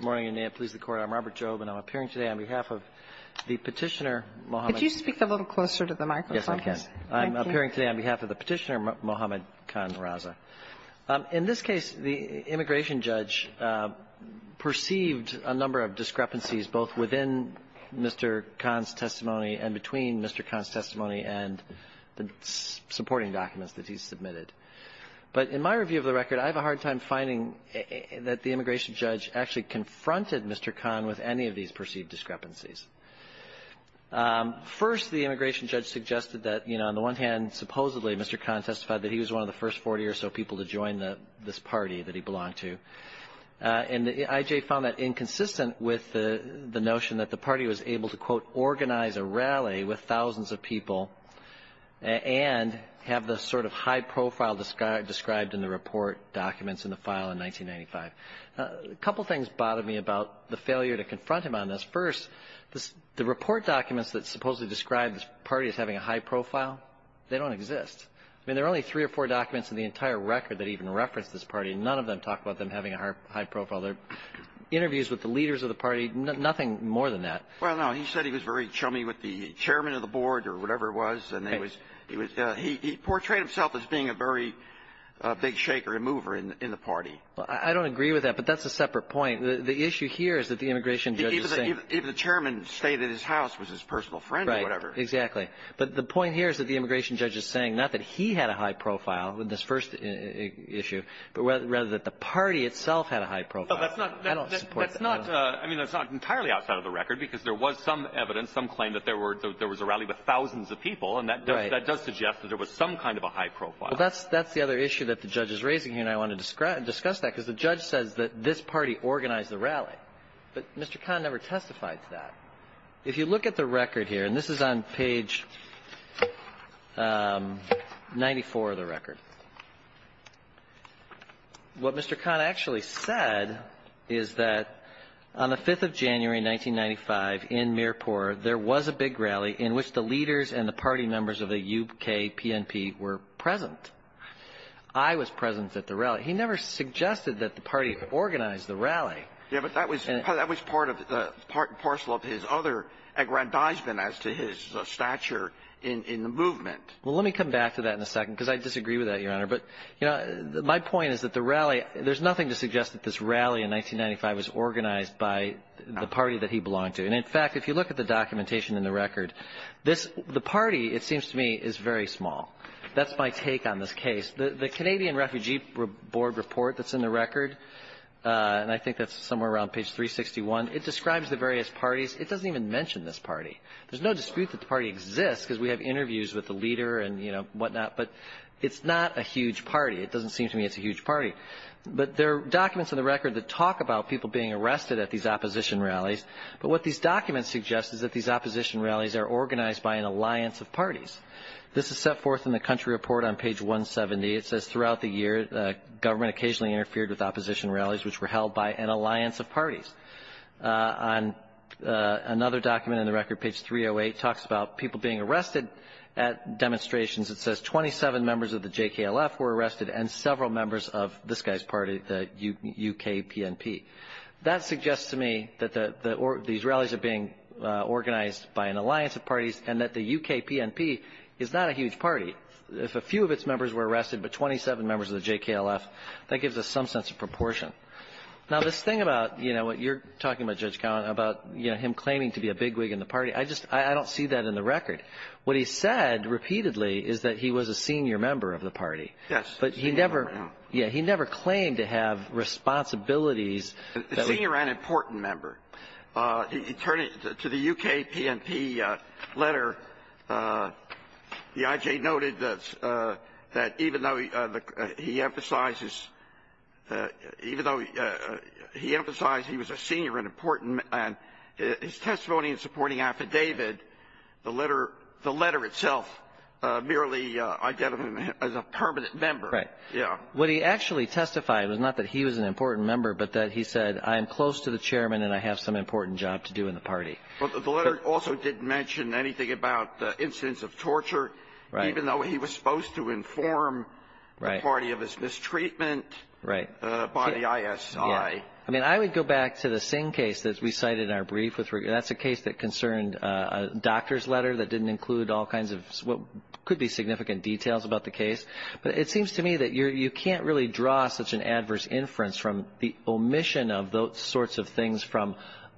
Good morning, and may it please the Court. I'm Robert Jobe, and I'm appearing today on behalf of the Petitioner Mohammed Khan Raza. In this case, the immigration judge perceived a number of discrepancies both within Mr. Khan's testimony and between Mr. Khan's testimony and the supporting documents that he submitted. But in my review of the record, I have a hard time finding that the immigration judge actually confronted Mr. Khan with any of these perceived discrepancies. First, the immigration judge suggested that, on the one hand, supposedly Mr. Khan testified that he was one of the first 40 or so people to join this party that he belonged to. And the IJ found that inconsistent with the notion that the party was able to, quote, organize a rally with thousands of people and have the sort of high profile described in the report documents in the file in 1995. A couple things bothered me about the failure to confront him on this. First, the report documents that supposedly describe this party as having a high profile, they don't exist. I mean, there are only three or four documents in the entire record that even reference this party. None of them talk about them having a high profile. There are interviews with the leaders of the party, nothing more than that. Well, no. He said he was very chummy with the chairman of the board or whatever it was. And he portrayed himself as being a very big shaker and mover in the party. I don't agree with that, but that's a separate point. The issue here is that the immigration judge is saying — Even if the chairman stayed at his house, was his personal friend or whatever. Right. Exactly. But the point here is that the immigration judge is saying not that he had a high profile in this first issue, but rather that the party itself had a high profile. I don't support that. I mean, that's not entirely outside of the record, because there was some evidence, some claim that there was a rally with thousands of people. And that does suggest that there was some kind of a high profile. Well, that's the other issue that the judge is raising here, and I want to discuss that, because the judge says that this party organized the rally. But Mr. Kahn never testified to that. If you look at the record here, and this is on page 94 of the record. What Mr. Kahn actually said is that on the 5th of January, 1995, in Mirpur, there was a big rally in which the leaders and the party members of the U.K. PNP were present. I was present at the rally. He never suggested that the party organized the rally. Yeah, but that was part of the — parcel of his other aggrandizement as to his stature in the movement. Well, let me come back to that in a second, because I disagree with that, Your Honor. But, you know, my point is that the rally — there's nothing to suggest that this rally in 1995 was organized by the party that he belonged to. And, in fact, if you look at the documentation in the record, this — the party, it seems to me, is very small. That's my take on this case. The Canadian Refugee Board report that's in the record, and I think that's somewhere around page 361, it describes the various parties. It doesn't even mention this party. There's no dispute that the party exists, because we have interviews with the leader and, you know, whatnot, but it's not a huge party. It doesn't seem to me it's a huge party. But there are documents in the record that talk about people being arrested at these opposition rallies. But what these documents suggest is that these opposition rallies are organized by an alliance of parties. This is set forth in the country report on page 170. It says, throughout the year, government occasionally interfered with opposition rallies, which were held by an alliance of parties. On another document in the record, page 308, talks about people being arrested at demonstrations. It says 27 members of the JKLF were arrested and several members of this guy's party, the UKPNP. That suggests to me that the Israelis are being organized by an alliance of parties and that the UKPNP is not a huge party. If a few of its members were arrested but 27 members of the JKLF, that gives us some sense of proportion. Now, this thing about, you know, what you're talking about, Judge Cowen, about, you know, him claiming to be a bigwig in the party, I just don't see that in the record. What he said repeatedly is that he was a senior member of the party. Yes. But he never claimed to have responsibilities. A senior and important member. Turning to the UKPNP letter, the IJ noted that even though he emphasizes he was a senior and important and his testimony in supporting affidavit, the letter itself merely identified him as a permanent member. Right. Yeah. What he actually testified was not that he was an important member, but that he said, I am close to the chairman and I have some important job to do in the party. But the letter also didn't mention anything about incidents of torture. Right. Even though he was supposed to inform the party of his mistreatment. Right. By the ISI. Yeah. I mean, I would go back to the Singh case that we cited in our brief. That's a case that concerned a doctor's letter that didn't include all kinds of what could be significant details about the case. But it seems to me that you can't really draw such an adverse inference from the omission of those sorts of things from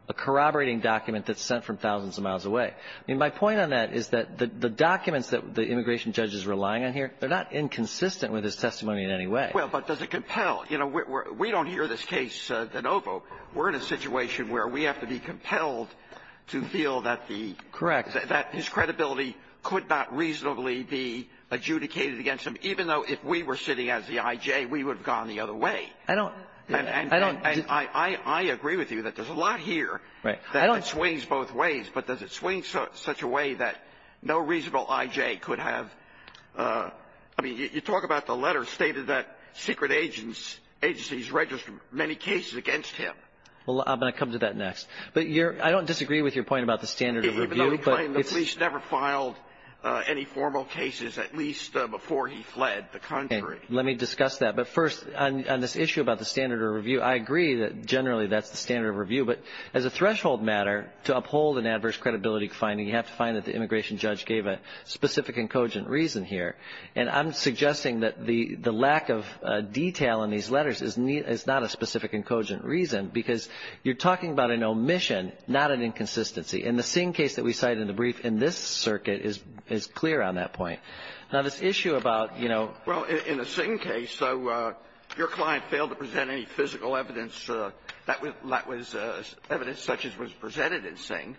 a corroborating document that's sent from thousands of miles away. I mean, my point on that is that the documents that the immigration judge is relying on here, they're not inconsistent with his testimony in any way. Well, but does it compel? You know, we don't hear this case de novo. We're in a situation where we have to be compelled to feel that the — Correct. That his credibility could not reasonably be adjudicated against him, even though if we were sitting as the I.J., we would have gone the other way. I don't — And I agree with you that there's a lot here. Right. That swings both ways. But does it swing such a way that no reasonable I.J. could have — I mean, you talk about the letter stated that secret agencies register many cases against him. Well, I'm going to come to that next. But I don't disagree with your point about the standard of review. I'm not saying the police never filed any formal cases, at least before he fled the country. Let me discuss that. But first, on this issue about the standard of review, I agree that generally that's the standard of review. But as a threshold matter to uphold an adverse credibility finding, you have to find that the immigration judge gave a specific and cogent reason here. And I'm suggesting that the lack of detail in these letters is not a specific and cogent reason because you're talking about an omission, not an inconsistency. And the Singh case that we cite in the brief in this circuit is clear on that point. Now, this issue about, you know — Well, in the Singh case, so your client failed to present any physical evidence that was evidence such as was presented in Singh.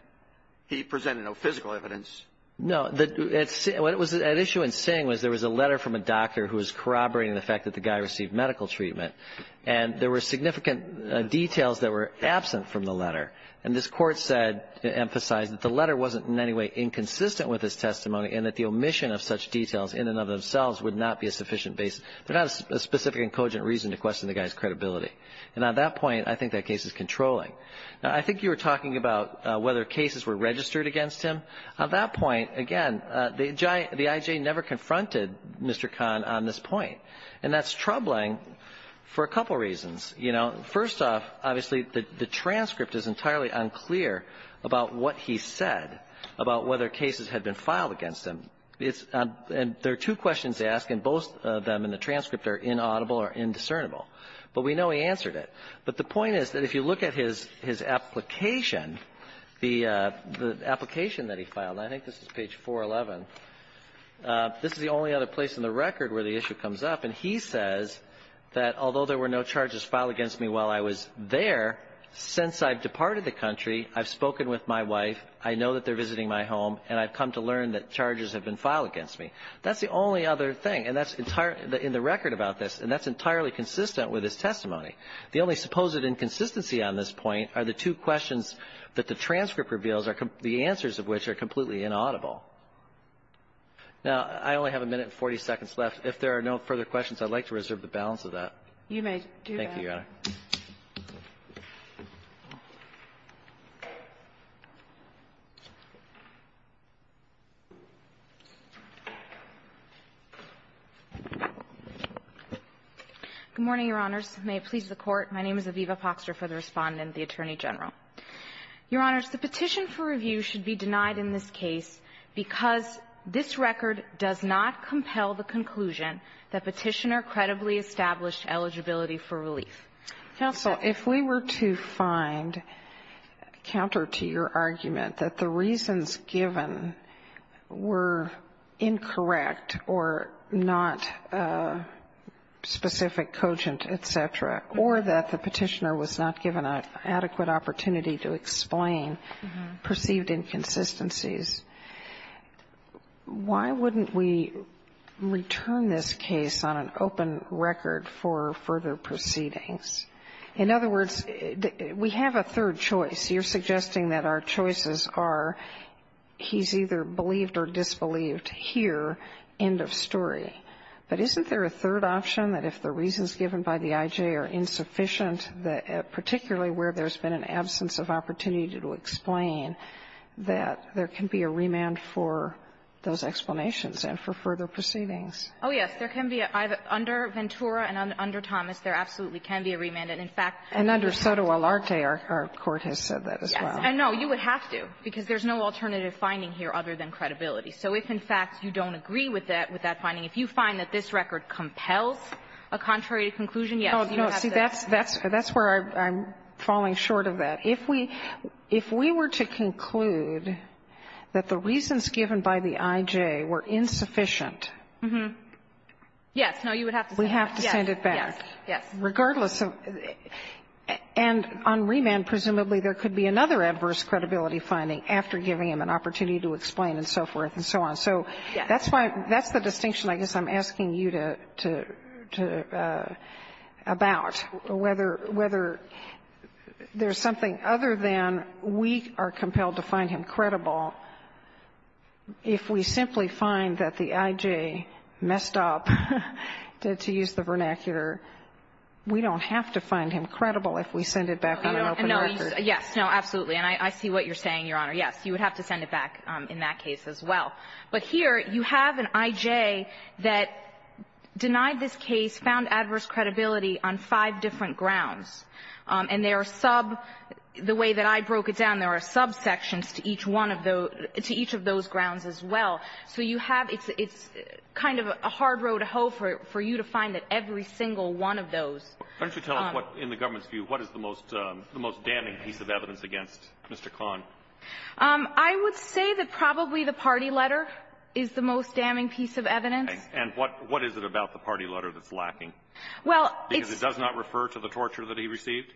He presented no physical evidence. No. What was at issue in Singh was there was a letter from a doctor who was corroborating the fact that the guy received medical treatment. And there were significant details that were absent from the letter. And this Court said, emphasized that the letter wasn't in any way inconsistent with his testimony and that the omission of such details in and of themselves would not be a sufficient basis. There's not a specific and cogent reason to question the guy's credibility. And on that point, I think that case is controlling. Now, I think you were talking about whether cases were registered against him. On that point, again, the I.J. never confronted Mr. Khan on this point. And that's troubling for a couple reasons. You know, first off, obviously, the transcript is entirely unclear about what he said about whether cases had been filed against him. And there are two questions to ask, and both of them in the transcript are inaudible or indiscernible. But we know he answered it. But the point is that if you look at his application, the application that he filed — I think this is page 411 — this is the only other place in the record where the issue comes up. And he says that although there were no charges filed against me while I was there, since I've departed the country, I've spoken with my wife, I know that they're visiting my home, and I've come to learn that charges have been filed against me. That's the only other thing. And that's entirely — in the record about this, and that's entirely consistent with his testimony. The only supposed inconsistency on this point are the two questions that the transcript reveals, the answers of which are completely inaudible. Now, I only have a minute and 40 seconds left. If there are no further questions, I'd like to reserve the balance of that. You may do that. Thank you, Your Honor. Good morning, Your Honors. May it please the Court. My name is Aviva Poxter for the Respondent, the Attorney General. Your Honors, the petition for review should be denied in this case because this record does not compel the conclusion that Petitioner credibly established eligibility for relief. Counsel, if we were to find counter to your argument that the reasons given were incorrect or not specific, cogent, et cetera, or that the Petitioner was not given an adequate opportunity to explain perceived inconsistencies, why wouldn't we return this case on an open record for further proceedings? In other words, we have a third choice. You're suggesting that our choices are he's either believed or disbelieved here, end of story. But isn't there a third option that if the reasons given by the I.J. are insufficient, particularly where there's been an absence of opportunity to explain, that there can be a remand for those explanations and for further proceedings? Oh, yes. There can be. Under Ventura and under Thomas, there absolutely can be a remand. And, in fact, under Sotomayor, our Court has said that as well. Yes. And, no, you would have to, because there's no alternative finding here other than credibility. So if, in fact, you don't agree with that finding, if you find that this record So that's where I'm falling short of that. If we were to conclude that the reasons given by the I.J. were insufficient Yes. No, you would have to send it back. We have to send it back. Yes. Yes. Regardless of, and on remand, presumably, there could be another adverse credibility finding after giving him an opportunity to explain and so forth and so on. So that's why, that's the distinction I guess I'm asking you to, to, about, whether there's something other than we are compelled to find him credible, if we simply find that the I.J. messed up, to use the vernacular, we don't have to find him credible if we send it back on an open record. No. Yes. No, absolutely. And I see what you're saying, Your Honor. Yes. You would have to send it back in that case as well. But here, you have an I.J. that denied this case, found adverse credibility on five different grounds. And there are sub, the way that I broke it down, there are subsections to each one of those, to each of those grounds as well. So you have, it's kind of a hard row to hoe for you to find that every single one of those. Why don't you tell us what, in the government's view, what is the most damning piece of evidence against Mr. Kahn? I would say that probably the party letter is the most damning piece of evidence. Okay. And what is it about the party letter that's lacking? Well, it's — Because it does not refer to the torture that he received?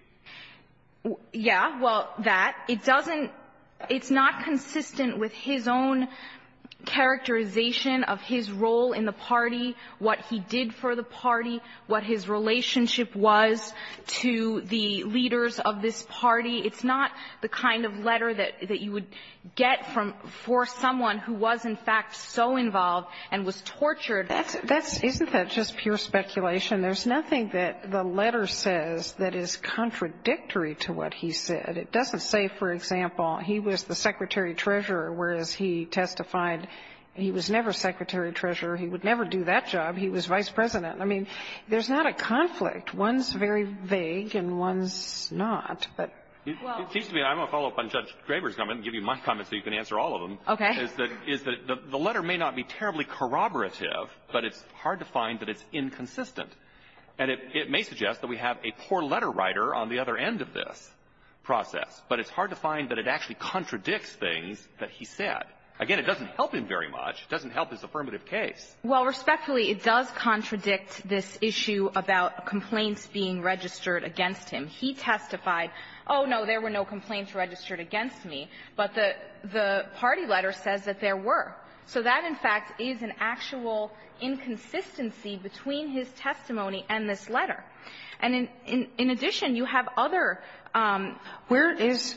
Yeah. Well, that. It doesn't — it's not consistent with his own characterization of his role in the party, what he did for the party, what his relationship was to the leaders of this party. It's not the kind of letter that you would get from — for someone who was, in fact, so involved and was tortured. That's — isn't that just pure speculation? There's nothing that the letter says that is contradictory to what he said. It doesn't say, for example, he was the secretary treasurer, whereas he testified he was never secretary treasurer, he would never do that job, he was vice president. I mean, there's not a conflict. One's very vague and one's not. It seems to me — I'm going to follow up on Judge Graber's comment and give you my comment so you can answer all of them. Okay. Is that the letter may not be terribly corroborative, but it's hard to find that it's inconsistent. And it may suggest that we have a poor letter writer on the other end of this process, but it's hard to find that it actually contradicts things that he said. Again, it doesn't help him very much. It doesn't help his affirmative case. Well, respectfully, it does contradict this issue about complaints being registered against him. He testified, oh, no, there were no complaints registered against me, but the party letter says that there were. So that, in fact, is an actual inconsistency between his testimony and this letter. And in addition, you have other — Where is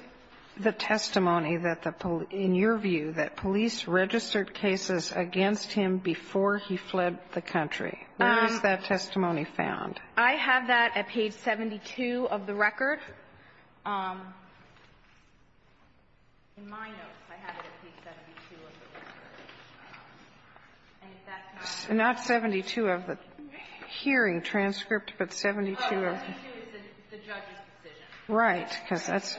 the testimony that the — in your view, that police registered cases against him before he fled the country? Where is that testimony found? I have that at page 72 of the record. In my notes, I have it at page 72 of the record. And if that's not — Not 72 of the hearing transcript, but 72 of the — Oh, 72 is the judge's decision. Right. Because that's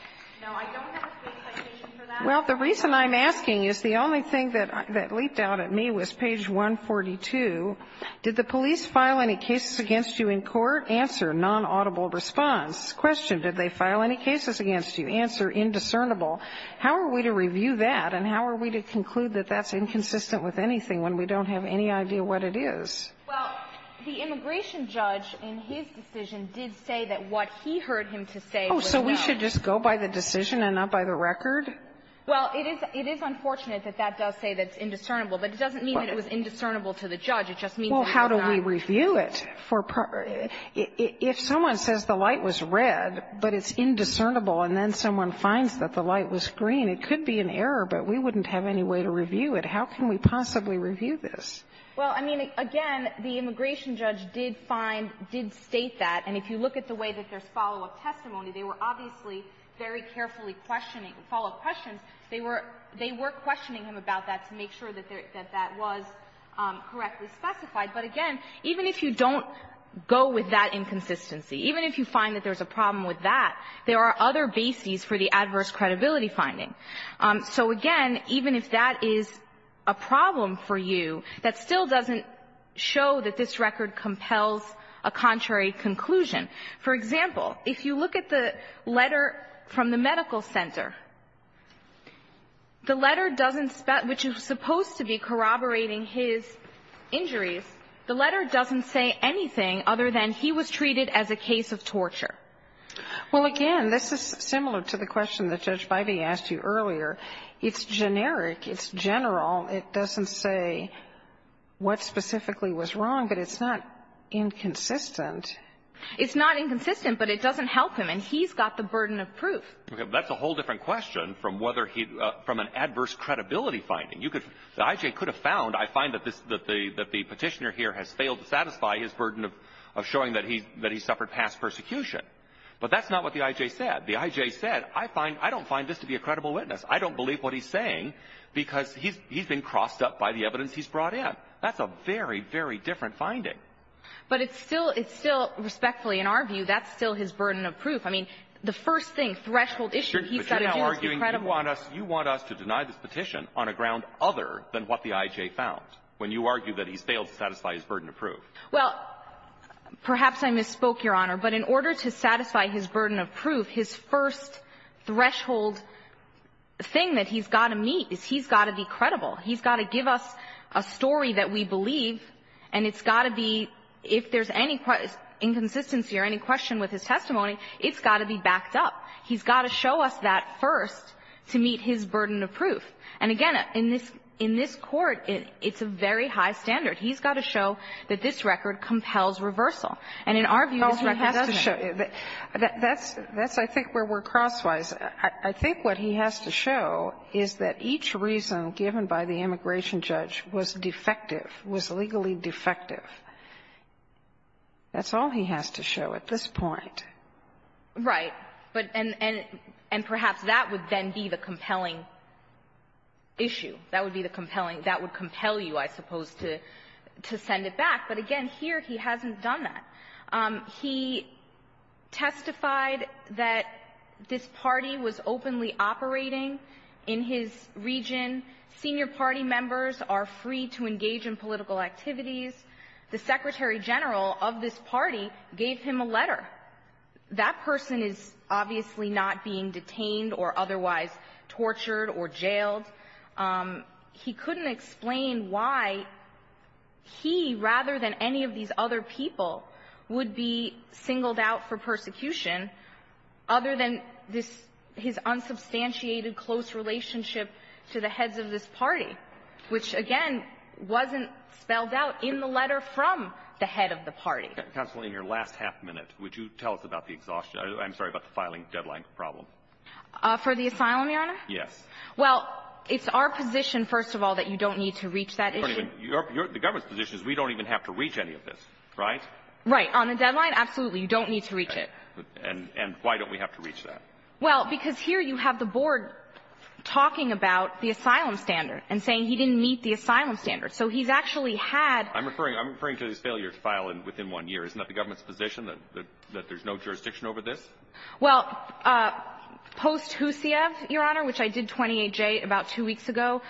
— No, I don't have a citation for that. Well, the reason I'm asking is the only thing that leaped out at me was page 142. Did the police file any cases against you in court? Answer, non-audible response. Question, did they file any cases against you? Answer, indiscernible. How are we to review that, and how are we to conclude that that's inconsistent with anything when we don't have any idea what it is? Well, the immigration judge, in his decision, did say that what he heard him to say was not. Oh, so we should just go by the decision and not by the record? Well, it is — it is unfortunate that that does say that's indiscernible. But it doesn't mean that it was indiscernible to the judge. It just means that he was not — Well, how do we review it for — if someone says the light was red, but it's indiscernible, and then someone finds that the light was green, it could be an error, but we wouldn't have any way to review it. How can we possibly review this? Well, I mean, again, the immigration judge did find — did state that. And if you look at the way that there's follow-up testimony, they were obviously very carefully questioning — follow-up questions. They were — they were questioning him about that to make sure that that was correctly specified. But again, even if you don't go with that inconsistency, even if you find that there's a problem with that, there are other bases for the adverse credibility finding. So again, even if that is a problem for you, that still doesn't show that this record compels a contrary conclusion. For example, if you look at the letter from the medical center, the letter doesn't — which is supposed to be corroborating his injuries, the letter doesn't say anything other than he was treated as a case of torture. Well, again, this is similar to the question that Judge Bybee asked you earlier. It's generic. It's general. It doesn't say what specifically was wrong, but it's not inconsistent. It's not inconsistent, but it doesn't help him, and he's got the burden of proof. That's a whole different question from whether he — from an adverse credibility finding. You could — the I.J. could have found — I find that this — that the Petitioner here has failed to satisfy his burden of showing that he — that he suffered past persecution. But that's not what the I.J. said. The I.J. said, I find — I don't find this to be a credible witness. I don't believe what he's saying because he's been crossed up by the evidence he's brought in. That's a very, very different finding. But it's still — it's still — respectfully, in our view, that's still his burden of proof. I mean, the first thing, threshold issue, he's got to do is be credible. But you're now arguing you want us — you want us to deny this petition on a ground other than what the I.J. found, when you argue that he's failed to satisfy his burden of proof. Well, perhaps I misspoke, Your Honor, but in order to satisfy his burden of proof, his first threshold thing that he's got to meet is he's got to be credible. He's got to give us a story that we believe, and it's got to be — if there's any inconsistency or any question with his testimony, it's got to be backed up. He's got to show us that first to meet his burden of proof. And again, in this — in this Court, it's a very high standard. He's got to show that this record compels reversal. And in our view, this record doesn't. Well, he has to show — that's — that's, I think, where we're crosswise. I think what he has to show is that each reason given by the immigration judge was defective, was legally defective. That's all he has to show at this point. Right. But — and perhaps that would then be the compelling issue. That would be the compelling — that would compel you, I suppose, to send it back. But again, here he hasn't done that. He testified that this party was openly operating in his region. Senior party members are free to engage in political activities. The secretary-general of this party gave him a letter. That person is obviously not being detained or otherwise tortured or jailed. He couldn't explain why he, rather than any of these other people, would be singled out for persecution other than this — his unsubstantiated close relationship to the heads of this party, which, again, wasn't spelled out in the letter from the head of the party. Counsel, in your last half minute, would you tell us about the exhaustion — I'm sorry, about the filing deadline problem? For the asylum, Your Honor? Yes. Well, it's our position, first of all, that you don't need to reach that issue. The government's position is we don't even have to reach any of this, right? Right. On the deadline, absolutely, you don't need to reach it. And why don't we have to reach that? Well, because here you have the board talking about the asylum standard and saying he didn't meet the asylum standard. So he's actually had — I'm referring — I'm referring to his failure to file within one year. Isn't that the government's position, that there's no jurisdiction over this? Well, post-Husiev, Your Honor, which I did 28J about two weeks ago,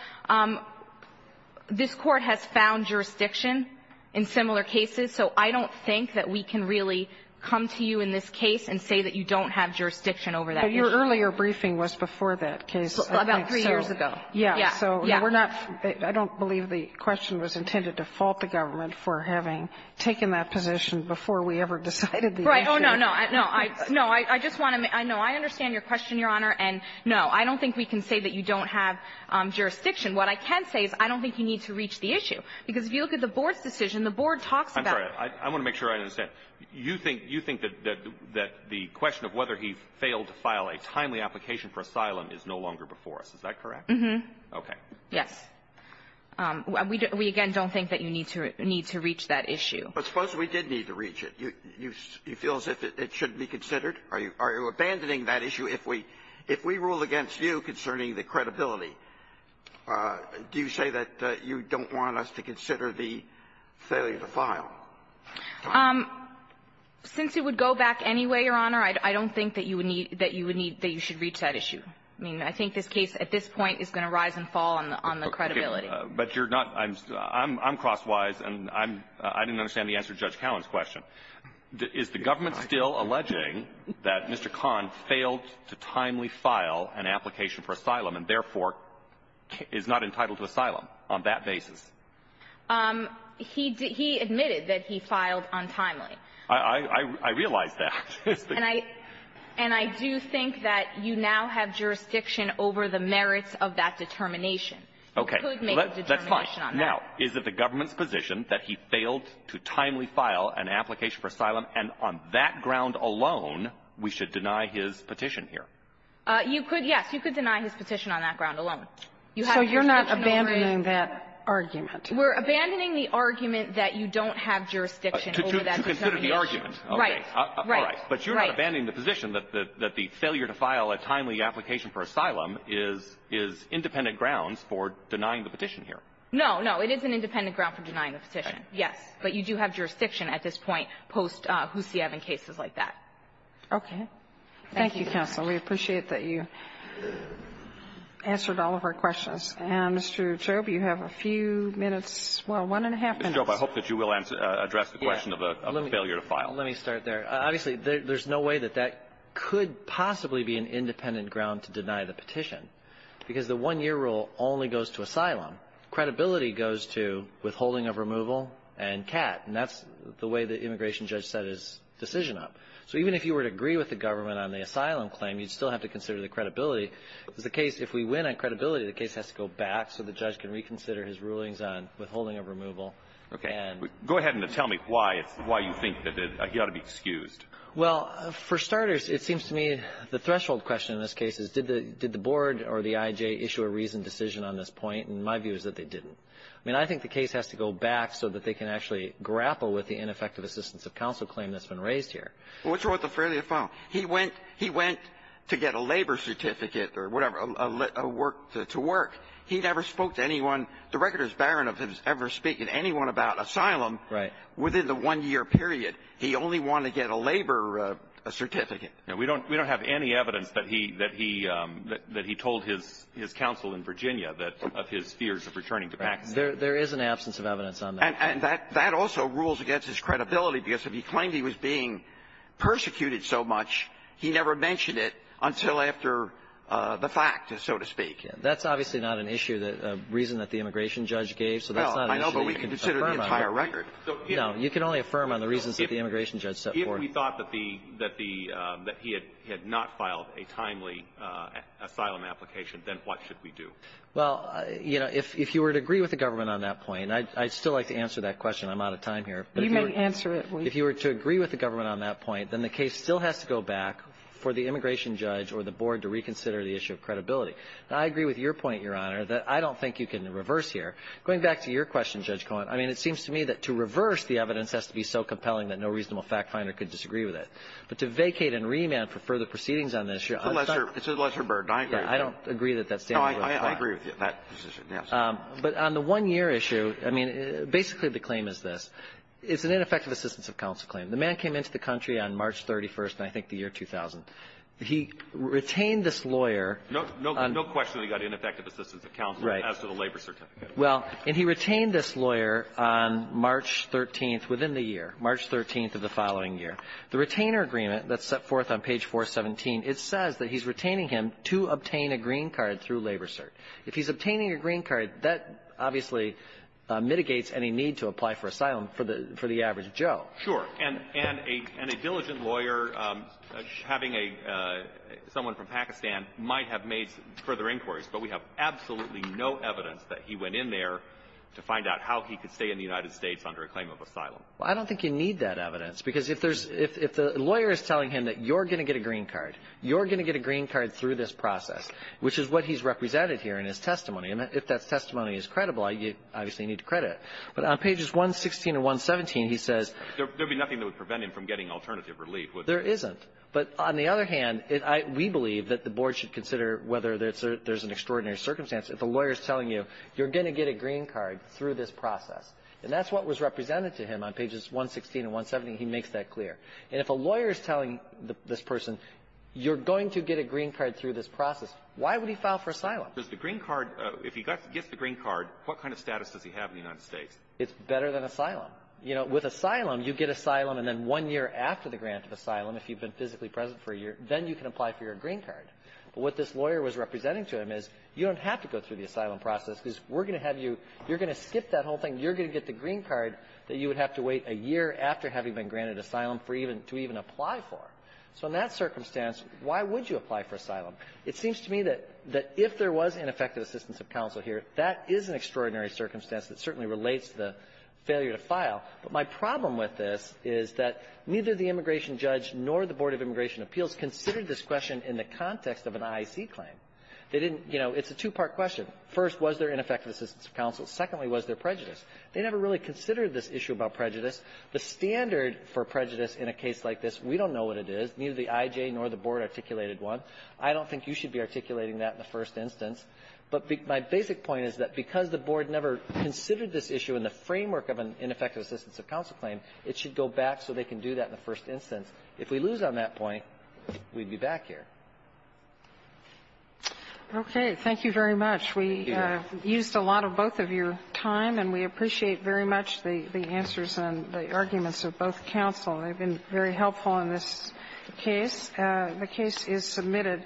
this Court has found jurisdiction in similar cases, so I don't think that we can really come to you in this case and say that you don't have jurisdiction over that issue. But your earlier briefing was before that case, I think. About three years ago. Yeah. Yeah. So we're not — I don't believe the question was intended to fault the government for having taken that position before we ever decided the issue. Right. Oh, no, no. No, I — no, I just want to — no, I understand your question, Your Honor. And, no, I don't think we can say that you don't have jurisdiction. What I can say is I don't think you need to reach the issue. Because if you look at the board's decision, the board talks about — I'm sorry. I want to make sure I understand. You think — you think that — that the question of whether he failed to file a timely application for asylum is no longer before us. Is that correct? Mm-hmm. Okay. Yes. We, again, don't think that you need to — need to reach that issue. But suppose we did need to reach it. You — you feel as if it shouldn't be considered? Are you — are you abandoning that issue if we — if we rule against you concerning the credibility? Do you say that you don't want us to consider the failure to file? Since it would go back anyway, Your Honor, I don't think that you would need — that you would need — that you should reach that issue. I mean, I think this case at this point is going to rise and fall on the credibility. But you're not — I'm crosswise, and I'm — I didn't understand the answer to Judge Cowan's question. Is the government still alleging that Mr. Khan failed to timely file an application for asylum and, therefore, is not entitled to asylum on that basis? He — he admitted that he filed untimely. I — I realize that. And I — and I do think that you now have jurisdiction over the merits of that determination. You could make a determination on that. That's fine. Now, is it the government's position that he failed to timely file an application for asylum, and on that ground alone, we should deny his petition here? You could — yes. You could deny his petition on that ground alone. You have jurisdiction over it. So you're not abandoning that argument? We're abandoning the argument that you don't have jurisdiction over that determination. To consider the argument. Right. Right. But you're not abandoning the position that the — that the failure to file a timely application for asylum is — is independent grounds for denying the petition here. No, no. It is an independent ground for denying the petition. Yes. But you do have jurisdiction at this point post-Hussiev and cases like that. Okay. Thank you, counsel. We appreciate that you answered all of our questions. And, Mr. Chaube, you have a few minutes, well, one and a half minutes. Ms. Chaube, I hope that you will address the question of the failure to file. Let me start there. Obviously, there's no way that that could possibly be an independent ground to deny the petition, because the one-year rule only goes to asylum. Credibility goes to withholding of removal and CAT. And that's the way the immigration judge set his decision up. So even if you were to agree with the government on the asylum claim, you'd still have to consider the credibility. If it's the case — if we win on credibility, the case has to go back so the judge can reconsider his rulings on withholding of removal. Okay. Go ahead and tell me why it's — why you think that he ought to be excused. Well, for starters, it seems to me the threshold question in this case is, did the — did the board or the I.J. issue a reasoned decision on this point? And my view is that they didn't. I mean, I think the case has to go back so that they can actually grapple with the ineffective assistance of counsel claim that's been raised here. Well, what's wrong with the failure to file? He went — he went to get a labor certificate or whatever, a work — to work. He never spoke to anyone — the record is barren of him ever speaking to anyone about asylum — Right. — within the one-year period. He only wanted to get a labor certificate. Now, we don't — we don't have any evidence that he — that he — that he told his counsel in Virginia that — of his fears of returning to Pakistan. There is an absence of evidence on that. And that — that also rules against his credibility, because if he claimed he was being persecuted so much, he never mentioned it until after the fact, so to speak. That's obviously not an issue that — a reason that the immigration judge gave. So that's not an issue you can affirm on. Well, I know, but we can consider the entire record. No. You can only affirm on the reasons that the immigration judge set forth. If we thought that the — that the — that he had not filed a timely asylum application, then what should we do? Well, you know, if — if you were to agree with the government on that point — and I'd still like to answer that question. I'm out of time here. You may answer it, Lee. If you were to agree with the government on that point, then the case still has to go back for the immigration judge or the board to reconsider the issue of credibility. Now, I agree with your point, Your Honor, that I don't think you can reverse here. Going back to your question, Judge Cohen, I mean, it seems to me that to reverse the evidence has to be so compelling that no reasonable fact-finder could disagree with it. But to vacate and remand for further proceedings on this issue — It's a lesser — it's a lesser burden. I agree with you. I don't agree that that's — No, I — I agree with you on that position, yes. But on the one-year issue, I mean, basically the claim is this. It's an ineffective assistance of counsel claim. The man came into the country on March 31st, I think, the year 2000. He retained this lawyer — No — no question that he got ineffective assistance of counsel as to the labor certificate. Well, and he retained this lawyer on March 13th, within the year, March 13th of the following year. The retainer agreement that's set forth on page 417, it says that he's retaining him to obtain a green card through labor cert. If he's obtaining a green card, that obviously mitigates any need to apply for asylum for the — for the average Joe. Sure. And — and a — and a diligent lawyer having a — someone from Pakistan might have made further inquiries, but we have absolutely no evidence that he went in there to find out how he could stay in the United States under a claim of asylum. Well, I don't think you need that evidence, because if there's — if — if the lawyer is telling him that you're going to get a green card, you're going to get a green card through this process, which is what he's represented here in his testimony. And if that testimony is credible, you obviously need to credit it. But on pages 116 and 117, he says — There would be nothing that would prevent him from getting alternative relief, would there? There isn't. But on the other hand, we believe that the board should consider whether there's an extraordinary circumstance if a lawyer is telling you you're going to get a green card through this process. And that's what was represented to him on pages 116 and 117. He makes that clear. And if a lawyer is telling this person you're going to get a green card through this process, why would he file for asylum? Does the green card — if he gets the green card, what kind of status does he have in the United States? It's better than asylum. You know, with asylum, you get asylum, and then one year after the grant of asylum, if you've been physically present for a year, then you can apply for your green card. But what this lawyer was representing to him is you don't have to go through the asylum process because we're going to have you — you're going to skip that whole thing. You're going to get the green card that you would have to wait a year after having been granted asylum for even — to even apply for. So in that circumstance, why would you apply for asylum? It seems to me that if there was ineffective assistance of counsel here, that is an extraordinary circumstance that certainly relates to the failure to file. But my problem with this is that neither the immigration judge nor the Board of Immigration Appeals considered this question in the context of an IEC claim. They didn't — you know, it's a two-part question. First, was there ineffective assistance of counsel? Secondly, was there prejudice? They never really considered this issue about prejudice. The standard for prejudice in a case like this, we don't know what it is. Neither the IJ nor the Board articulated one. I don't think you should be articulating that in the first instance. But my basic point is that because the Board never considered this issue in the framework of an ineffective assistance of counsel claim, it should go back so they can do that in the first instance. If we lose on that point, we'd be back here. Okay. Thank you very much. We used a lot of both of your time, and we appreciate very much the answers and the arguments of both counsel. They've been very helpful in this case. The case is submitted.